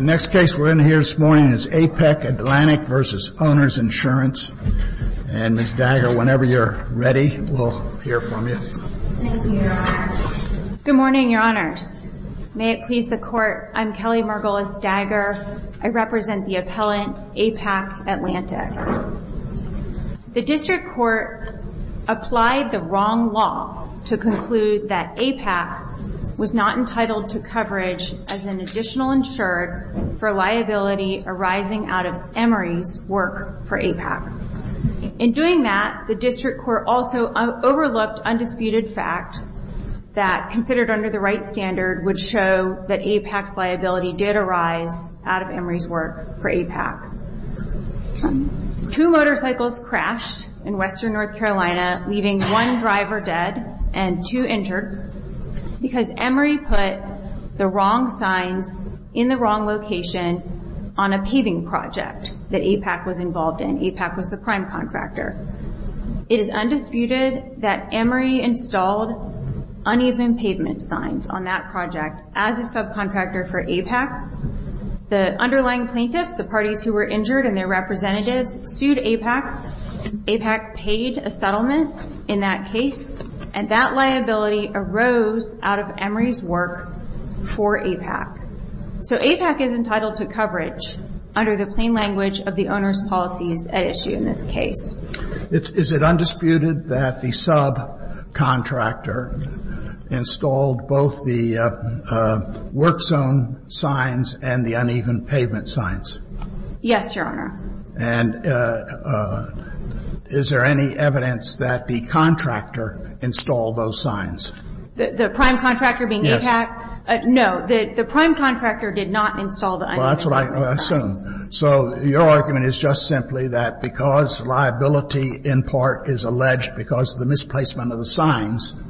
Next case we're in here this morning is APAC-Atlantic v. Owners Insurance. And Ms. Dagger, whenever you're ready, we'll hear from you. Thank you, Your Honor. Good morning, Your Honors. May it please the Court, I'm Kelly Margolis-Dagger. I represent the appellant, APAC-Atlantic. The District Court applied the wrong law to conclude that APAC was not entitled to coverage as an additional insured for liability arising out of Emory's work for APAC. In doing that, the District Court also overlooked undisputed facts that considered under the right standard would show that APAC's liability did arise out of Emory's work for APAC. Two motorcycles crashed in western North Carolina, leaving one driver dead and two injured, because Emory put the wrong signs in the wrong location on a paving project that APAC was involved in. APAC was the prime contractor. It is undisputed that Emory installed uneven pavement signs on that project as a subcontractor for APAC. The underlying plaintiffs, the parties who were injured and their representatives, sued APAC. APAC paid a settlement in that case, and that liability arose out of Emory's work for APAC. So APAC is entitled to coverage under the plain language of the owner's policies at issue in this case. Is it undisputed that the subcontractor installed both the work zone signs and the uneven pavement signs? Yes, Your Honor. And is there any evidence that the contractor installed those signs? The prime contractor being APAC? No. The prime contractor did not install the uneven pavement signs. Well, that's what I assume. So your argument is just simply that because liability in part is alleged because of the misplacement of the signs,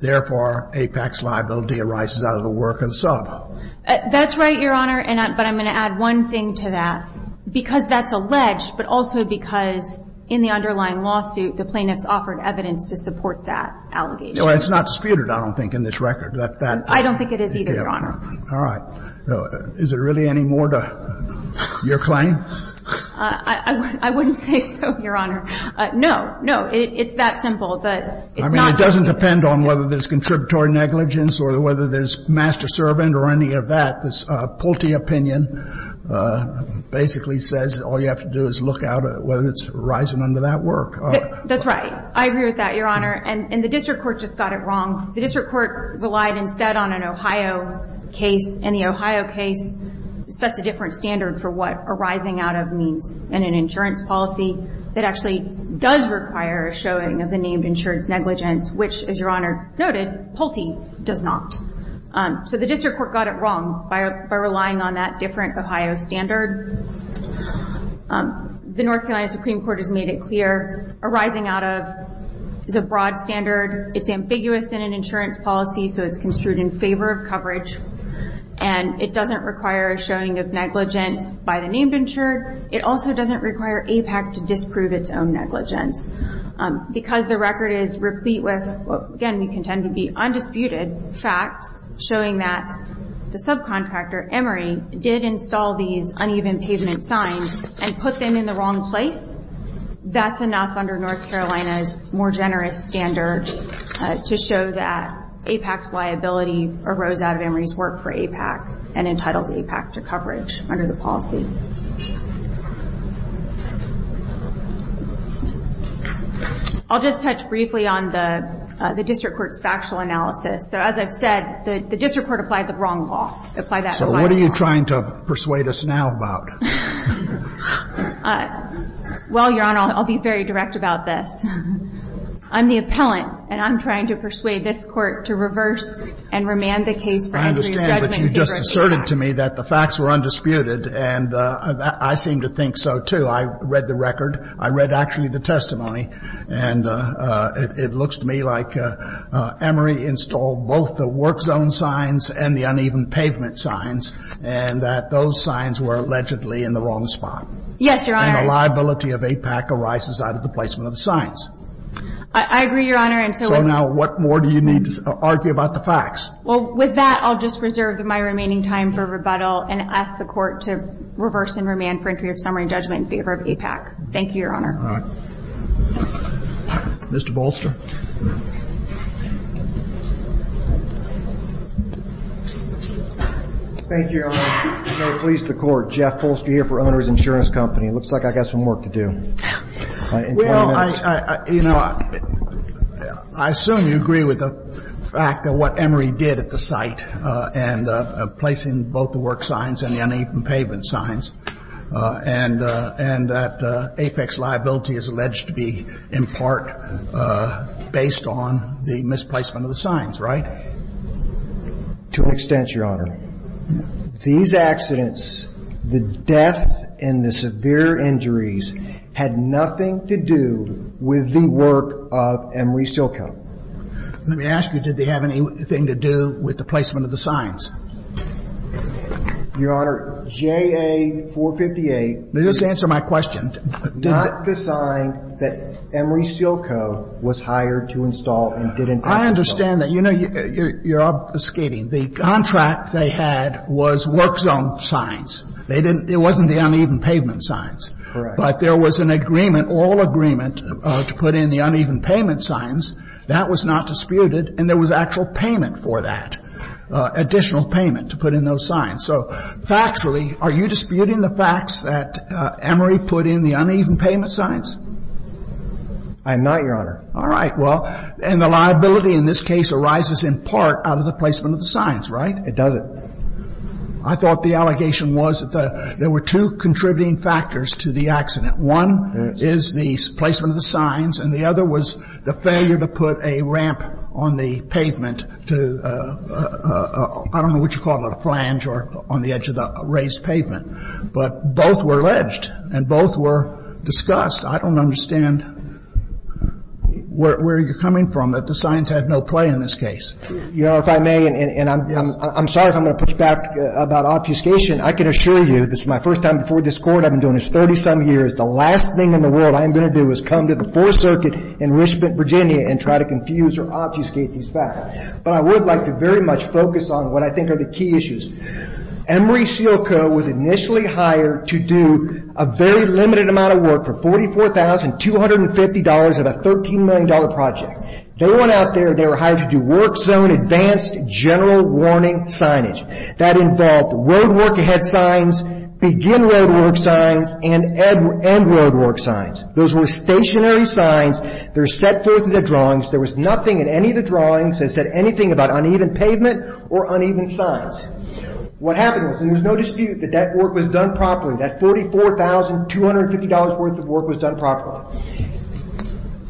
therefore, APAC's liability arises out of the work of the sub? That's right, Your Honor, but I'm going to add one thing to that. Because that's alleged, but also because in the underlying lawsuit, the plaintiffs offered evidence to support that allegation. It's not disputed, I don't think, in this record. I don't think it is either, Your Honor. All right. Is there really any more to your claim? I wouldn't say so, Your Honor. No. No. It's that simple. It's not disputed. I mean, it doesn't depend on whether there's contributory negligence or whether there's master servant or any of that. This Pulte opinion basically says all you have to do is look out whether it's rising under that work. That's right. I agree with that, Your Honor. And the district court just got it wrong. The district court relied instead on an Ohio case, and the Ohio case sets a different standard for what arising out of means in an insurance policy that actually does require a showing of the named insurance negligence, which, as Your Honor noted, Pulte does not. So the district court got it wrong by relying on that different Ohio standard. The North Carolina Supreme Court has made it clear arising out of is a broad standard. It's ambiguous in an insurance policy, so it's construed in favor of coverage, and it doesn't require a showing of negligence by the named insured. It also doesn't require APAC to disprove its own negligence. Because the record is replete with, again, we contend to be undisputed facts, showing that the subcontractor, Emory, did install these uneven pavement signs and put them in the wrong place, that's enough under North Carolina's more generous standard to show that APAC's liability arose out of Emory's work for APAC and entitles APAC to coverage under the policy. I'll just touch briefly on the district court's factual analysis. So as I've said, the district court applied the wrong law. So what are you trying to persuade us now about? Well, Your Honor, I'll be very direct about this. I'm the appellant, and I'm trying to persuade this Court to reverse and remand the case for injury judgment in favor of APAC. I understand, but you just asserted to me that the facts were undisputed, and I seem to think so, too. I read the record. I read, actually, the testimony, and it looks to me like Emory installed both the work pavement signs and that those signs were allegedly in the wrong spot. Yes, Your Honor. And the liability of APAC arises out of the placement of the signs. I agree, Your Honor. So now what more do you need to argue about the facts? Well, with that, I'll just reserve my remaining time for rebuttal and ask the Court to reverse and remand for injury of summary judgment in favor of APAC. Thank you, Your Honor. All right. Mr. Bolster. Thank you, Your Honor. Please, the Court. Jeff Bolster here for Owner's Insurance Company. It looks like I've got some work to do. Well, I, you know, I assume you agree with the fact of what Emory did at the site and placing both the work signs and the uneven pavement signs, and that APAC's liability is alleged to be in part based on the misplacement of the signs, right? To an extent, Your Honor. These accidents, the death and the severe injuries had nothing to do with the work of Emory Silco. Let me ask you, did they have anything to do with the placement of the signs? Your Honor, JA 458. Now, just answer my question. Not the sign that Emory Silco was hired to install and didn't install. I understand that. You know, you're obfuscating. The contract they had was work zone signs. They didn't, it wasn't the uneven pavement signs. Correct. But there was an agreement, all agreement, to put in the uneven pavement signs. That was not disputed, and there was actual payment for that, additional payment to put in those signs. So factually, are you disputing the facts that Emory put in the uneven pavement signs? I am not, Your Honor. All right. Well, and the liability in this case arises in part out of the placement of the signs, right? It doesn't. I thought the allegation was that there were two contributing factors to the accident. One is the placement of the signs, and the other was the failure to put a ramp on the pavement to, I don't know what you call it, a flange or on the edge of the raised pavement. But both were alleged, and both were discussed. I don't understand where you're coming from, that the signs had no play in this case. Your Honor, if I may, and I'm sorry if I'm going to push back about obfuscation. I can assure you, this is my first time before this Court. I've been doing this 30-some years. The last thing in the world I am going to do is come to the Fourth Circuit in Richmond, Virginia, and try to confuse or obfuscate these facts. But I would like to very much focus on what I think are the key issues. Emory Seal Co. was initially hired to do a very limited amount of work for $44,250 of a $13 million project. They went out there, they were hired to do work zone advanced general warning signage. That involved road work ahead signs, begin road work signs, and end road work signs. Those were stationary signs. They were set forth in their drawings. There was nothing in any of the drawings that said anything about uneven pavement or uneven signs. What happened was, and there's no dispute, that that work was done properly. That $44,250 worth of work was done properly.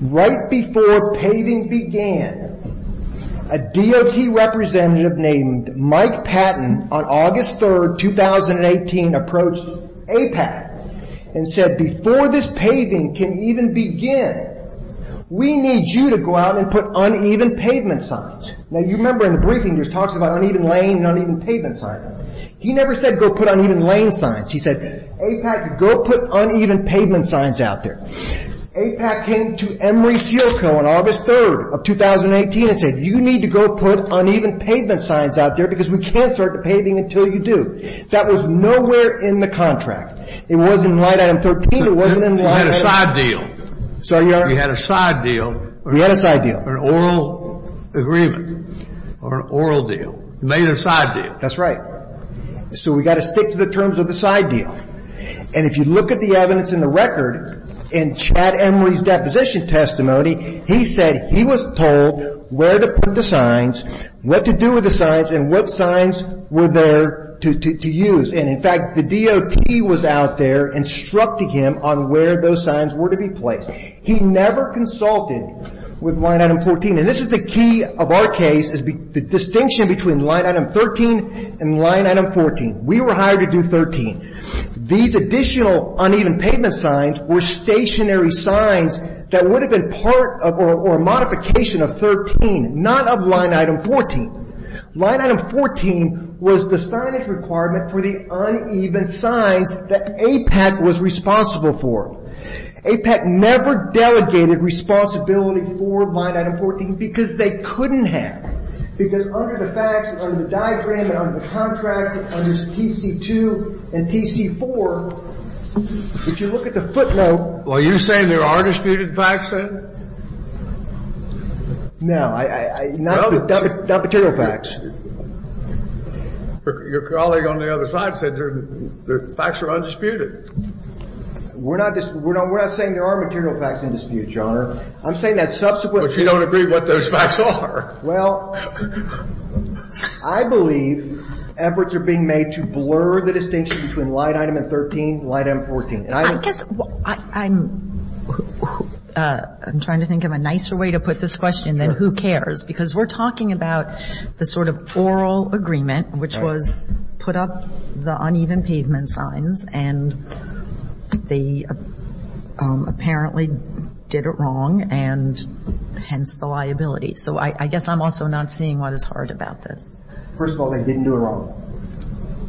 Right before paving began, a DOT representative named Mike Patton, on August 3, 2018, approached APAC and said, before this paving can even begin, we need you to go out and put uneven pavement signs. Now, you remember in the briefing, there's talks about uneven lane and uneven pavement signs. He never said, go put uneven lane signs. He said, APAC, go put uneven pavement signs out there. APAC came to Emory Seal Co. on August 3, 2018, and said, you need to go put uneven pavement signs out there, because we can't start the paving until you do. That was nowhere in the contract. It wasn't in line item 13. It wasn't in line item 13. You had a side deal. Sorry, Your Honor? You had a side deal. We had a side deal. Or an oral agreement, or an oral deal. You made a side deal. That's right. So we've got to stick to the terms of the side deal. And if you look at the evidence in the record, in Chad Emory's deposition testimony, he said he was told where to put the signs, what to do with the signs, and what signs were there to use. In fact, the DOT was out there instructing him on where those signs were to be placed. He never consulted with line item 14. This is the key of our case, the distinction between line item 13 and line item 14. We were hired to do 13. These additional uneven pavement signs were stationary signs that would have been part or a modification of 13, not of line item 14. Line item 14 was the signage requirement for the uneven signs that APEC was responsible for. APEC never delegated responsibility for line item 14 because they couldn't have. Because under the facts, under the diagram, and under the contract, under TC2 and TC4, if you look at the footnote. Well, are you saying there are disputed facts there? No. Not material facts. Your colleague on the other side said the facts are undisputed. We're not saying there are material facts in dispute, Your Honor. I'm saying that subsequently. But you don't agree what those facts are. Well, I believe efforts are being made to blur the distinction between line item and 13, line item 14. I guess I'm trying to think of a nicer way to put this question than who cares, because we're talking about the sort of oral agreement, which was put up the uneven pavement signs, and they apparently did it wrong, and hence the liability. So I guess I'm also not seeing what is hard about this. First of all, they didn't do it wrong.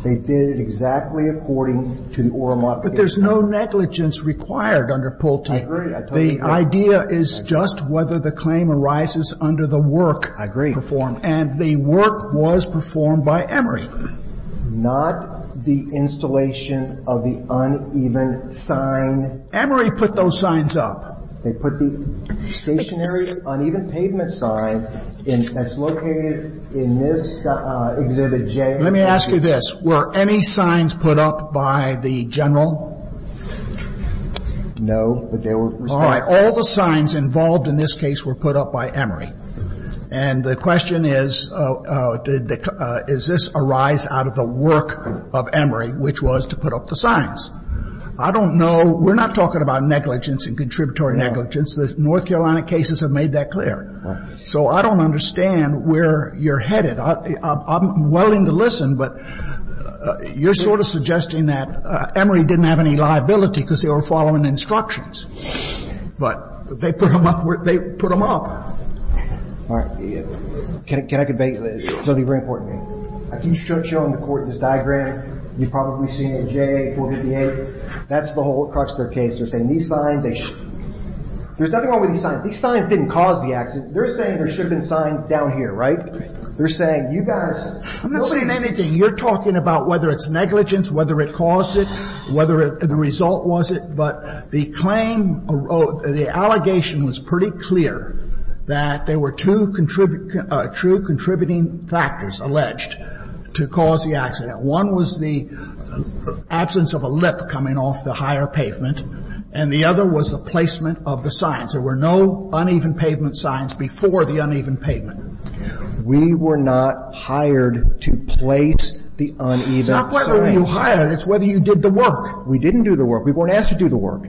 They did it exactly according to the oral modification. But there's no negligence required under Pulte. I agree. The idea is just whether the claim arises under the work performed. I agree. And the work was performed by Emory. Not the installation of the uneven sign. Emory put those signs up. They put the stationary uneven pavement sign that's located in this Exhibit J. Let me ask you this. Were any signs put up by the general? No. All right. All the signs involved in this case were put up by Emory. And the question is, is this a rise out of the work of Emory, which was to put up the I don't know. We're not talking about negligence and contributory negligence. The North Carolina cases have made that clear. So I don't understand where you're headed. I'm willing to listen, but you're sort of suggesting that Emory didn't have any liability because they were following instructions. But they put them up where they put them up. All right. Can I convey something very important to you? I keep showing the Court this diagram. You've probably seen it in JA 458. That's the whole crux of their case. They're saying these signs, they should There's nothing wrong with these signs. These signs didn't cause the accident. They're saying there should have been signs down here, right? They're saying you guys I'm not saying anything. You're talking about whether it's negligence, whether it caused it, whether the result was it. But the claim, the allegation was pretty clear that there were two true contributing factors alleged to cause the accident. One was the absence of a lip coming off the higher pavement, and the other was the placement of the signs. There were no uneven pavement signs before the uneven pavement. We were not hired to place the uneven signs. It's not whether you hired us. It's whether you did the work. We didn't do the work. We weren't asked to do the work.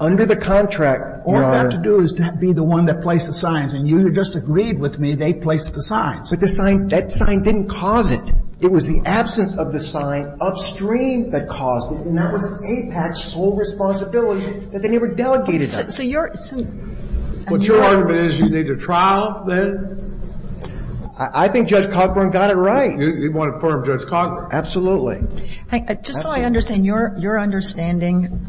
Under the contract, Your Honor. All you have to do is to be the one that placed the signs. And you just agreed with me they placed the signs. But the sign, that sign didn't cause it. It was the absence of the sign upstream that caused it, and that was APAC's sole responsibility that they never delegated that. So you're What your argument is, you need a trial, then? I think Judge Cockburn got it right. You want to affirm Judge Cockburn? Absolutely. Just so I understand, your understanding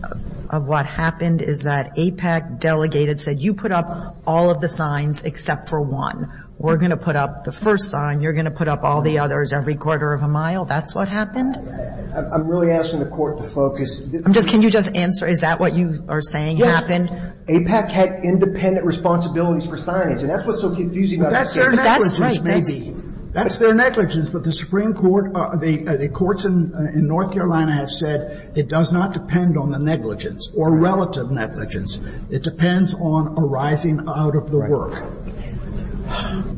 of what happened is that APAC delegated, said you put up all of the signs except for one. We're going to put up the first sign. You're going to put up all the others every quarter of a mile. That's what happened? I'm really asking the Court to focus. Can you just answer, is that what you are saying happened? APAC had independent responsibilities for signings, and that's what's so confusing about this case. That's their negligence, maybe. That's their negligence, but the Supreme Court, the courts in North Carolina have said it does not depend on the negligence or relative negligence. It depends on arising out of the work.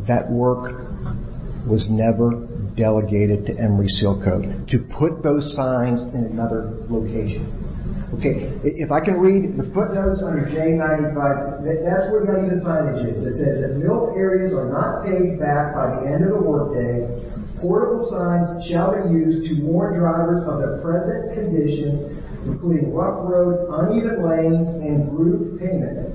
That work was never delegated to Emory-Silco to put those signs in another location. If I can read the footnotes under J95, that's where many of the signage is. It says that milk areas are not paid back by the end of the workday. Portable signs shall be used to warn drivers of their present conditions, including rough roads, uneven lanes, and group payment.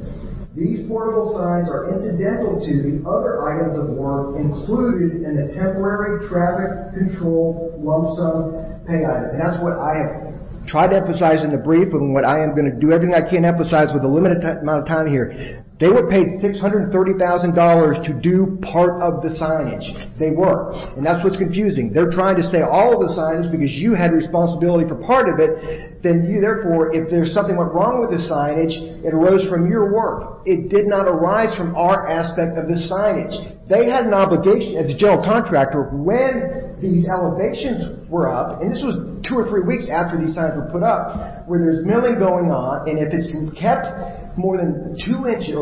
These portable signs are incidental to the other items of work included in the temporary traffic control lump sum pay item. That's what I have tried to emphasize in the brief and what I am going to do. Everything I can't emphasize with a limited amount of time here. They were paid $630,000 to do part of the signage. They were, and that's what's confusing. They're trying to say all of the signage because you had responsibility for part of it. Therefore, if something went wrong with the signage, it arose from your work. It did not arise from our aspect of the signage. They had an obligation, as a general contractor, when these elevations were up, and this was two or three weeks after these signs were put up, where there's milling going on, and if it's kept more than two inches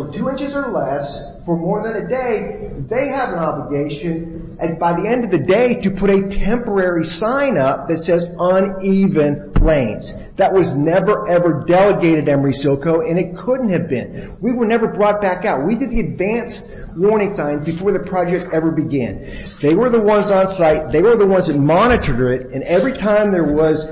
or less for more than a day, they have an obligation by the end of the day to put a temporary sign up that says uneven lanes. That was never, ever delegated to Emory Silco, and it couldn't have been. We were never brought back out. We did the advanced warning signs before the project ever began. They were the ones on site. They were the ones that monitored it, and every time there was,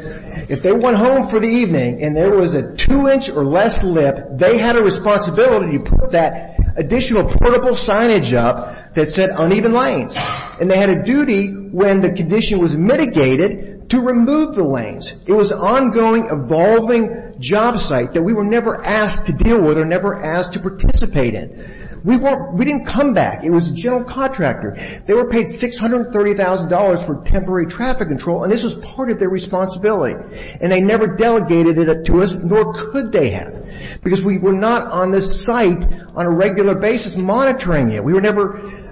if they went home for the evening and there was a two-inch or less lip, they had a responsibility to put that additional portable signage up that said uneven lanes, and they had a duty when the condition was mitigated to remove the lanes. It was an ongoing, evolving job site that we were never asked to deal with or never asked to participate in. We didn't come back. It was a general contractor. They were paid $630,000 for temporary traffic control, and this was part of their responsibility, and they never delegated it to us, nor could they have, because we were not on this site on a regular basis monitoring it. We were never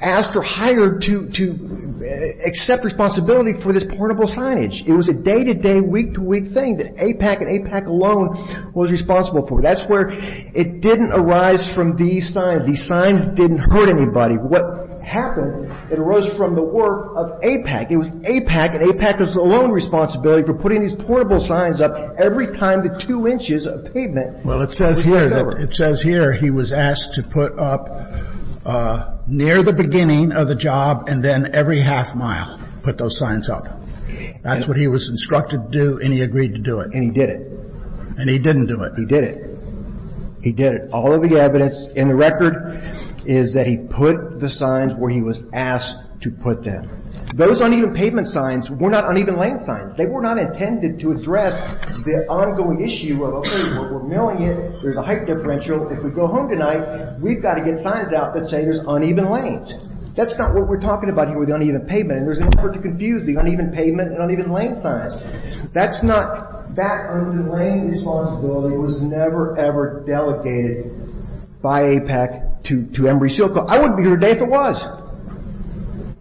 asked or hired to accept responsibility for this portable signage. It was a day-to-day, week-to-week thing that APAC and APAC alone was responsible for. That's where it didn't arise from these signs. The signs didn't hurt anybody. What happened, it arose from the work of APAC. It was APAC, and APAC was the only responsibility for putting these portable signs up every time the two inches of pavement was covered. Well, it says here that he was asked to put up near the beginning of the job and then every half mile put those signs up. That's what he was instructed to do, and he agreed to do it. And he did it. And he didn't do it. He did it. He did it. All of the evidence in the record is that he put the signs where he was asked to put them. Those uneven pavement signs were not uneven lane signs. They were not intended to address the ongoing issue of, okay, we're milling it. There's a height differential. If we go home tonight, we've got to get signs out that say there's uneven lanes. That's not what we're talking about here with the uneven pavement, and there's an effort to confuse the uneven pavement and uneven lane signs. That uneven lane responsibility was never, ever delegated by APAC to Embry-Silco. I wouldn't be here today if it was,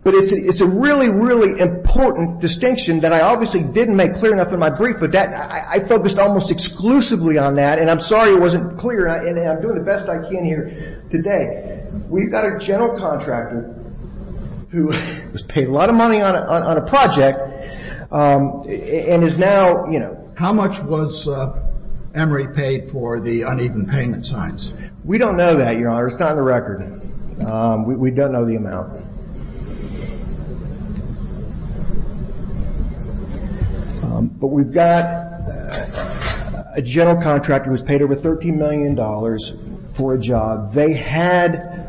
but it's a really, really important distinction that I obviously didn't make clear enough in my brief, but I focused almost exclusively on that, and I'm sorry it wasn't clear, and I'm doing the best I can here today. We've got a general contractor who has paid a lot of money on a project and is now, you know. How much was Emory paid for the uneven pavement signs? We don't know that, Your Honor. It's not in the record. We don't know the amount. But we've got a general contractor who was paid over $13 million for a job. They had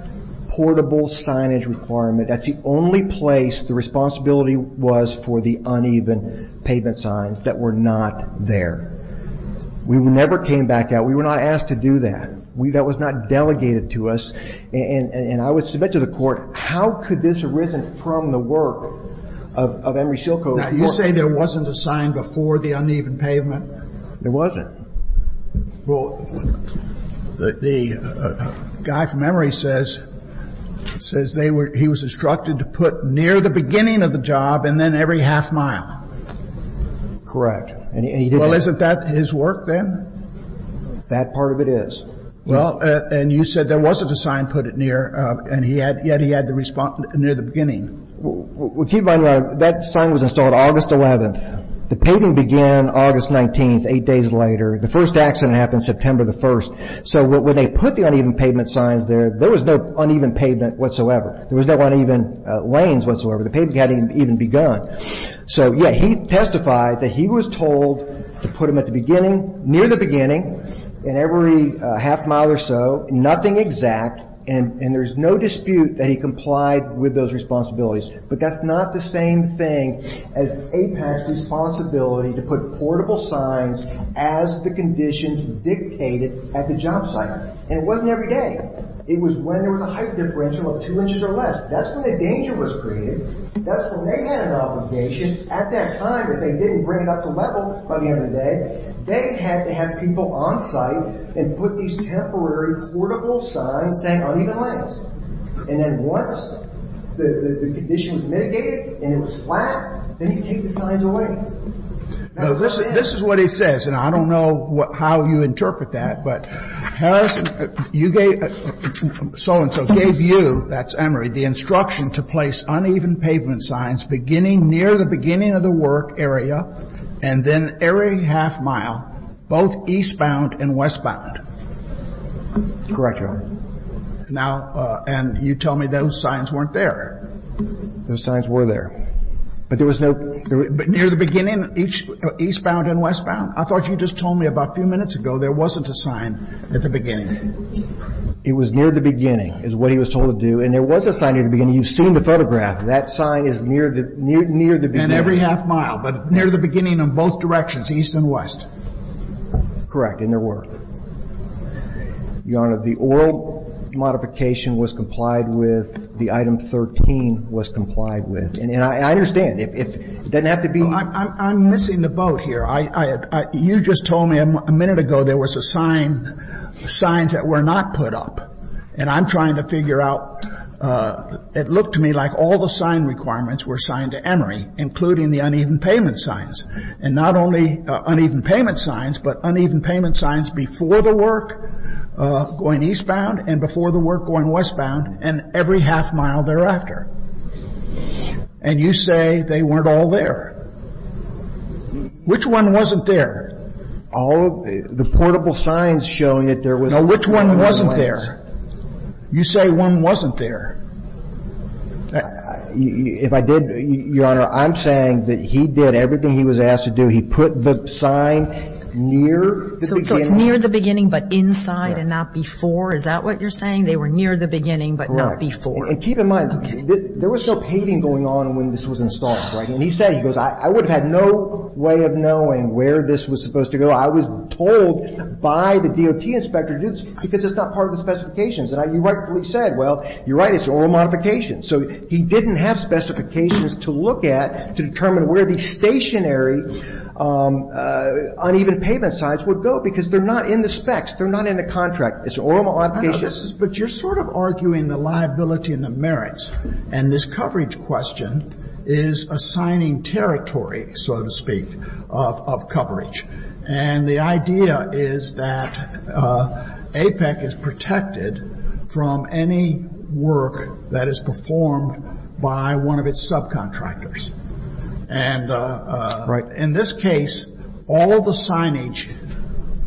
portable signage requirement. That's the only place the responsibility was for the uneven pavement signs that were not there. We never came back out. We were not asked to do that. That was not delegated to us, and I would submit to the court, how could this have arisen from the work of Embry-Silco? Now, you say there wasn't a sign before the uneven pavement? There wasn't. Well, the guy from Emory says he was instructed to put near the beginning of the job and then every half mile. Correct. Well, isn't that his work then? That part of it is. Well, and you said there wasn't a sign put near, and yet he had to respond near the beginning. Well, keep in mind, Your Honor, that sign was installed August 11th. The paving began August 19th, eight days later. The first accident happened September 1st. When they put the uneven pavement signs there, there was no uneven pavement whatsoever. There was no uneven lanes whatsoever. The pavement hadn't even begun. He testified that he was told to put them at the beginning, near the beginning, and every half mile or so. Nothing exact, and there's no dispute that he complied with those responsibilities. But that's not the same thing as APAC's responsibility to put portable signs as the conditions dictated at the job site. And it wasn't every day. It was when there was a height differential of two inches or less. That's when the danger was created. That's when they had an obligation. At that time, if they didn't bring it up to level by the end of the day, they had to have people on site and put these temporary portable signs saying uneven lanes. And then once the condition was mitigated and it was flat, then you take the signs away. Now, this is what he says, and I don't know how you interpret that. But Harris, you gave, so-and-so gave you, that's Emery, the instruction to place uneven pavement signs beginning near the beginning of the work area and then every half mile, both eastbound and westbound. Correct, Your Honor. Now, and you tell me those signs weren't there. Those signs were there. But there was no near the beginning, eastbound and westbound. I thought you just told me about a few minutes ago there wasn't a sign at the beginning. It was near the beginning is what he was told to do. And there was a sign at the beginning. You've seen the photograph. That sign is near the beginning. And every half mile, but near the beginning in both directions, east and west. Correct, and there were. Your Honor, the oil modification was complied with. The item 13 was complied with. And I understand. It doesn't have to be. I'm missing the boat here. You just told me a minute ago there was a sign, signs that were not put up. And I'm trying to figure out. It looked to me like all the sign requirements were signed to Emery, including the uneven pavement signs. And not only uneven pavement signs, but uneven pavement signs before the work going eastbound and before the work going westbound and every half mile thereafter. And you say they weren't all there. Which one wasn't there? All of the portable signs showing that there was. No, which one wasn't there? You say one wasn't there. If I did, Your Honor, I'm saying that he did everything he was asked to do. He put the sign near the beginning. So it's near the beginning but inside and not before. Is that what you're saying? They were near the beginning but not before. And keep in mind, there was no paving going on when this was installed, right? And he said, he goes, I would have had no way of knowing where this was supposed to go. I was told by the DOT inspector to do this because it's not part of the specifications. And you rightfully said, well, you're right, it's an oral modification. So he didn't have specifications to look at to determine where the stationary uneven pavement signs would go because they're not in the specs. They're not in the contract. It's an oral modification. But you're sort of arguing the liability and the merits. And this coverage question is assigning territory, so to speak, of coverage. And the idea is that APEC is protected from any work that is performed by one of its subcontractors. And in this case, all the signage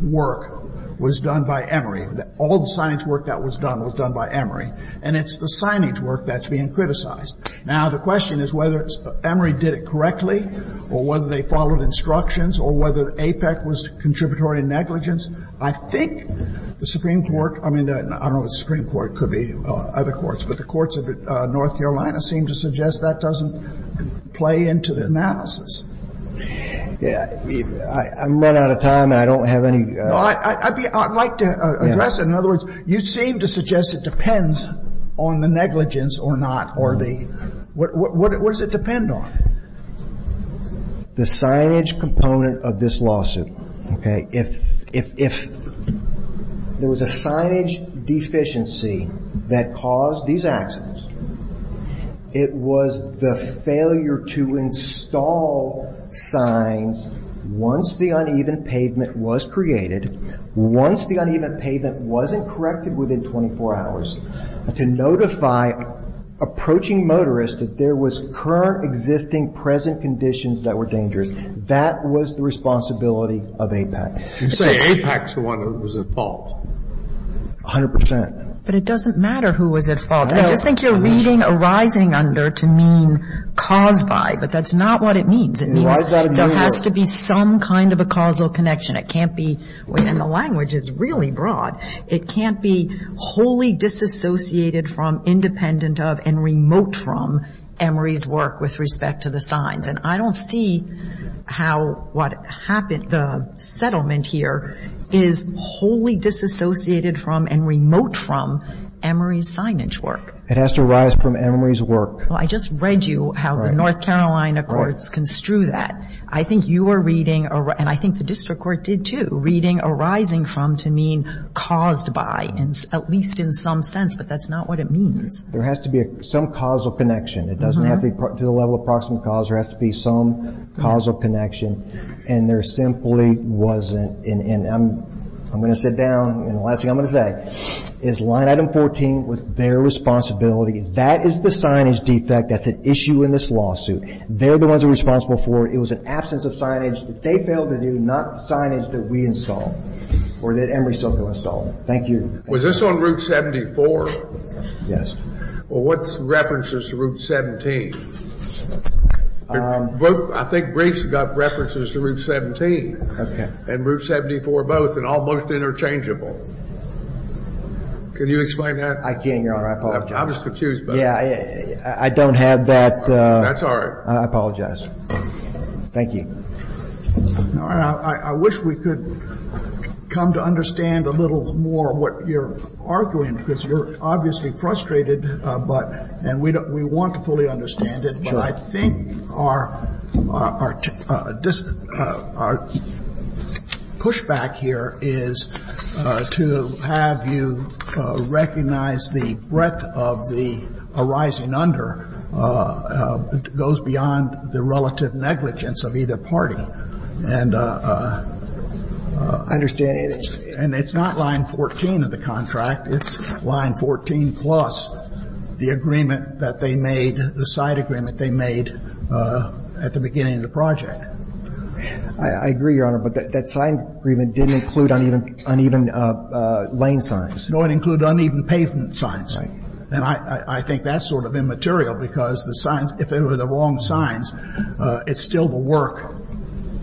work was done by Emory. All the signage work that was done was done by Emory. And it's the signage work that's being criticized. Now, the question is whether Emory did it correctly or whether they followed instructions or whether APEC was contributory negligence. I think the Supreme Court, I mean, I don't know if the Supreme Court could be other courts, but the courts of North Carolina seem to suggest that doesn't play into the analysis. I'm running out of time and I don't have any. No. I'd like to address it. In other words, you seem to suggest it depends on the negligence or not or the what does it depend on? The signage component of this lawsuit. If there was a signage deficiency that caused these accidents, it was the failure to install signs once the uneven pavement was created, once the uneven pavement wasn't corrected within 24 hours, to notify approaching motorists that there was current existing present conditions that were dangerous. That was the responsibility of APEC. You say APEC's the one who was at fault. A hundred percent. But it doesn't matter who was at fault. I just think you're reading a rising under to mean caused by, but that's not what it means. It means there has to be some kind of a causal connection. It can't be, in the language, it's really broad. It can't be wholly disassociated from, independent of, and remote from Emory's work with respect to the signs. And I don't see how what happened, the settlement here is wholly disassociated from and remote from Emory's signage work. It has to arise from Emory's work. Well, I just read you how the North Carolina courts construe that. I think you are reading, and I think the district court did too, reading arising from to mean caused by, at least in some sense, but that's not what it means. There has to be some causal connection. It doesn't have to be to the level of approximate cause. There has to be some causal connection. And there simply wasn't. And I'm going to sit down, and the last thing I'm going to say is line item 14 was their responsibility. That is the signage defect. That's an issue in this lawsuit. They're the ones responsible for it. It was an absence of signage that they failed to do, not signage that we installed or that Emory Sokol installed. Thank you. Was this on Route 74? Yes. Well, what's references to Route 17? I think Brice got references to Route 17. Okay. And Route 74 both, and almost interchangeable. Can you explain that? I can't, Your Honor. I apologize. I'm just confused. Yeah, I don't have that. That's all right. I apologize. Thank you. Your Honor, I wish we could come to understand a little more what you're arguing, because you're obviously frustrated, and we want to fully understand it. But I think our pushback here is to have you recognize the breadth of the arising I mean, the extent to which the law is broken under goes beyond the relative negligence of either party. And it's not line 14 of the contract. It's line 14 plus the agreement that they made, the side agreement they made at the beginning of the project. I agree, Your Honor. But that side agreement didn't include uneven lane signs. No, it included uneven pavement signs. And I think that's sort of immaterial, because the signs, if they were the wrong signs, it's still the work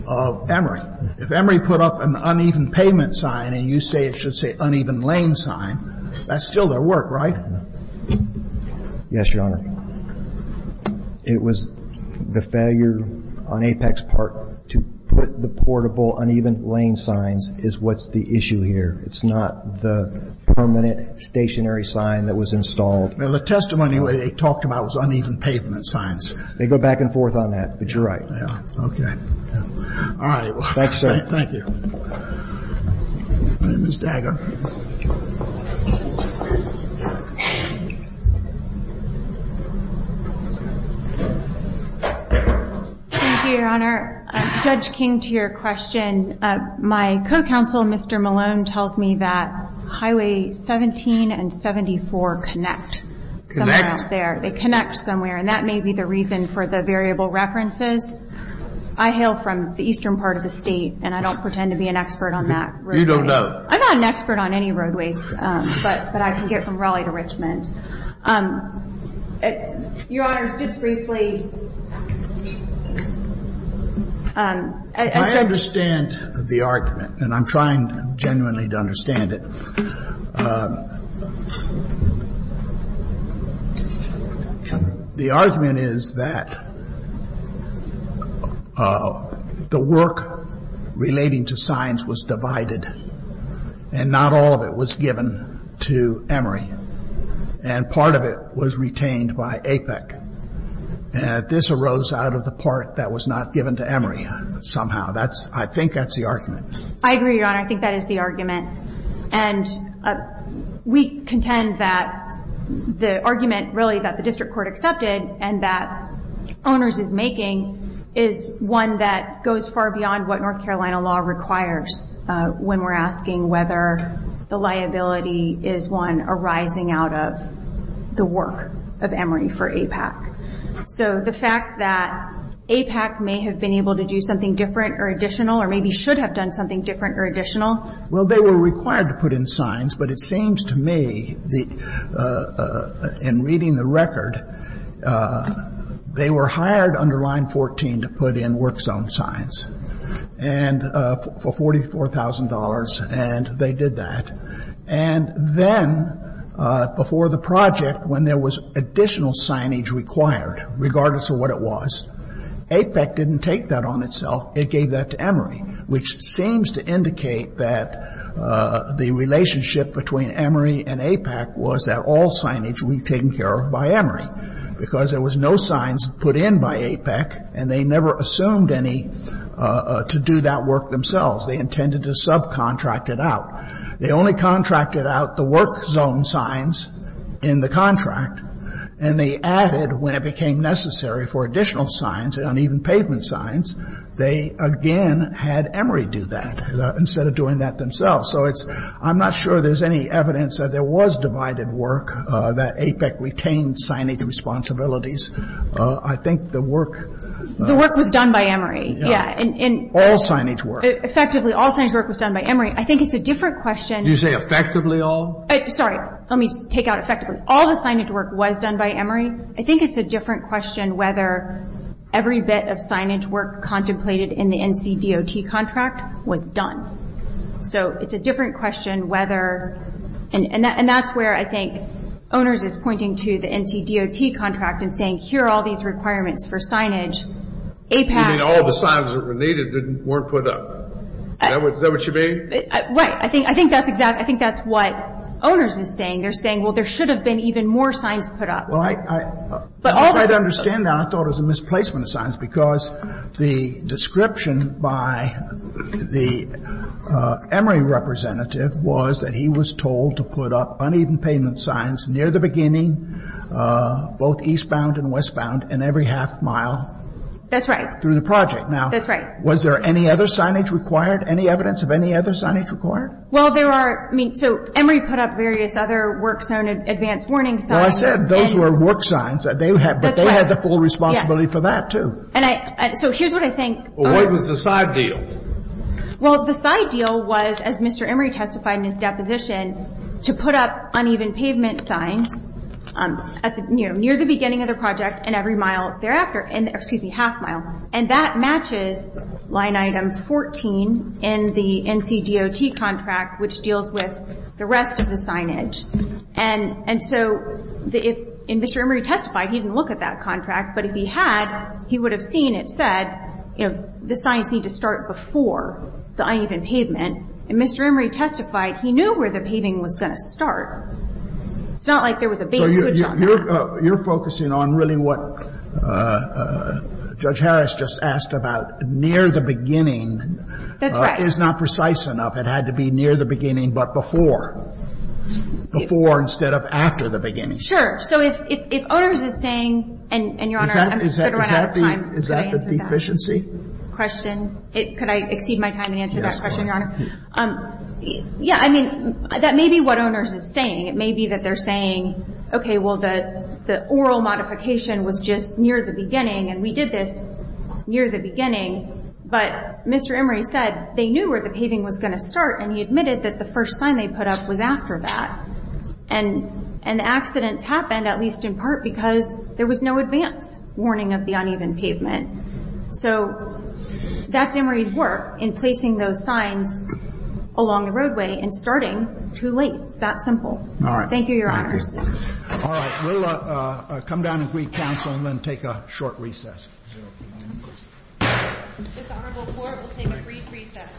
of Emory. If Emory put up an uneven pavement sign and you say it should say uneven lane sign, that's still their work, right? Yes, Your Honor. It was the failure on Apex Park to put the portable uneven lane signs is what's the issue here. It's not the permanent stationary sign that was installed. Well, the testimony they talked about was uneven pavement signs. They go back and forth on that, but you're right. Yeah. Okay. All right. Thank you, sir. Thank you. My name is Dagger. Thank you, Your Honor. Judge King, to your question, my co-counsel, Mr. Malone, tells me that Highway 17 and 74 connect. Connect? Somewhere out there. They connect somewhere, and that may be the reason for the variable references. I hail from the eastern part of the state, and I don't pretend to be an expert on that. You don't know? I'm not an expert on any roadways, but I can get from Raleigh to Richmond. Your Honor, just briefly, I think that's... I understand the argument, and I'm trying genuinely to understand it. The argument is that the work relating to signs was divided, and not all of it was given to Emory, and part of it was retained by APEC. This arose out of the part that was not given to Emory somehow. I think that's the argument. I agree, Your Honor. I think that is the argument. And we contend that the argument, really, that the district court accepted and that owners is making is one that goes far beyond what North Carolina law requires when we're asking whether the liability is one arising out of the work of Emory for APEC. So the fact that APEC may have been able to do something different or additional, or maybe should have done something different or additional... Well, they were required to put in signs, but it seems to me, in reading the record, they were hired under Line 14 to put in work zone signs for $44,000, and they did that. And then, before the project, when there was additional signage required, regardless of what it was, APEC didn't take that on itself. It gave that to Emory, which seems to indicate that the relationship between Emory and APEC was that all signage would be taken care of by Emory, because there was no signs put in by APEC, and they never assumed any to do that work themselves. They intended to subcontract it out. They only contracted out the work zone signs in the contract, and they added, when it became necessary for additional signs, uneven pavement signs, they again had Emory do that instead of doing that themselves. So I'm not sure there's any evidence that there was divided work, that APEC retained signage responsibilities. I think the work... The work was done by Emory. Yeah. All signage work. Effectively, all signage work was done by Emory. I think it's a different question... You say effectively all? Sorry. Let me just take out effectively. All the signage work was done by Emory. I think it's a different question whether every bit of signage work contemplated in the NCDOT contract was done. So it's a different question whether... And that's where I think owners is pointing to the NCDOT contract and saying, here are all these requirements for signage. APEC... You mean all the signs that were needed weren't put up. Is that what you mean? Right. I think that's exactly... I think that's what owners is saying. They're saying, well, there should have been even more signs put up. Well, I don't quite understand that. I thought it was a misplacement of signs because the description by the Emory representative was that he was told to put up uneven pavement signs near the beginning, both eastbound and westbound, and every half mile... That's right. ...through the project. That's right. Now, was there any other signage required? Any evidence of any other signage required? Well, there are... I mean, so Emory put up various other work zone advance warning signs. Well, I said those were work signs. That's right. But they had the full responsibility for that, too. So here's what I think... Well, what was the side deal? Well, the side deal was, as Mr. Emory testified in his deposition, to put up uneven pavement signs near the beginning of the project and every mile thereafter, excuse me, half mile, and that matches line item 14 in the NCDOT contract, which deals with the rest of the signage. And so if Mr. Emory testified, he didn't look at that contract. But if he had, he would have seen it said, you know, the signs need to start before the uneven pavement. And Mr. Emory testified he knew where the paving was going to start. It's not like there was a base image on that. So you're focusing on really what Judge Harris just asked about, near the beginning... That's right. ...is not precise enough. It had to be near the beginning but before. Before instead of after the beginning. So if owners is saying, and, Your Honor, I'm sort of running out of time. Is that the deficiency? Question? Could I exceed my time and answer that question, Your Honor? Yeah, I mean, that may be what owners is saying. It may be that they're saying, okay, well, the oral modification was just near the beginning, and we did this near the beginning. But Mr. Emory said they knew where the paving was going to start, and he admitted that the first sign they put up was after that. And the accidents happened, at least in part, because there was no advance warning of the uneven pavement. So that's Emory's work in placing those signs along the roadway and starting too late. It's that simple. All right. Thank you, Your Honors. All right. We'll come down and brief counsel and then take a short recess. This Honorable Court will take a brief recess.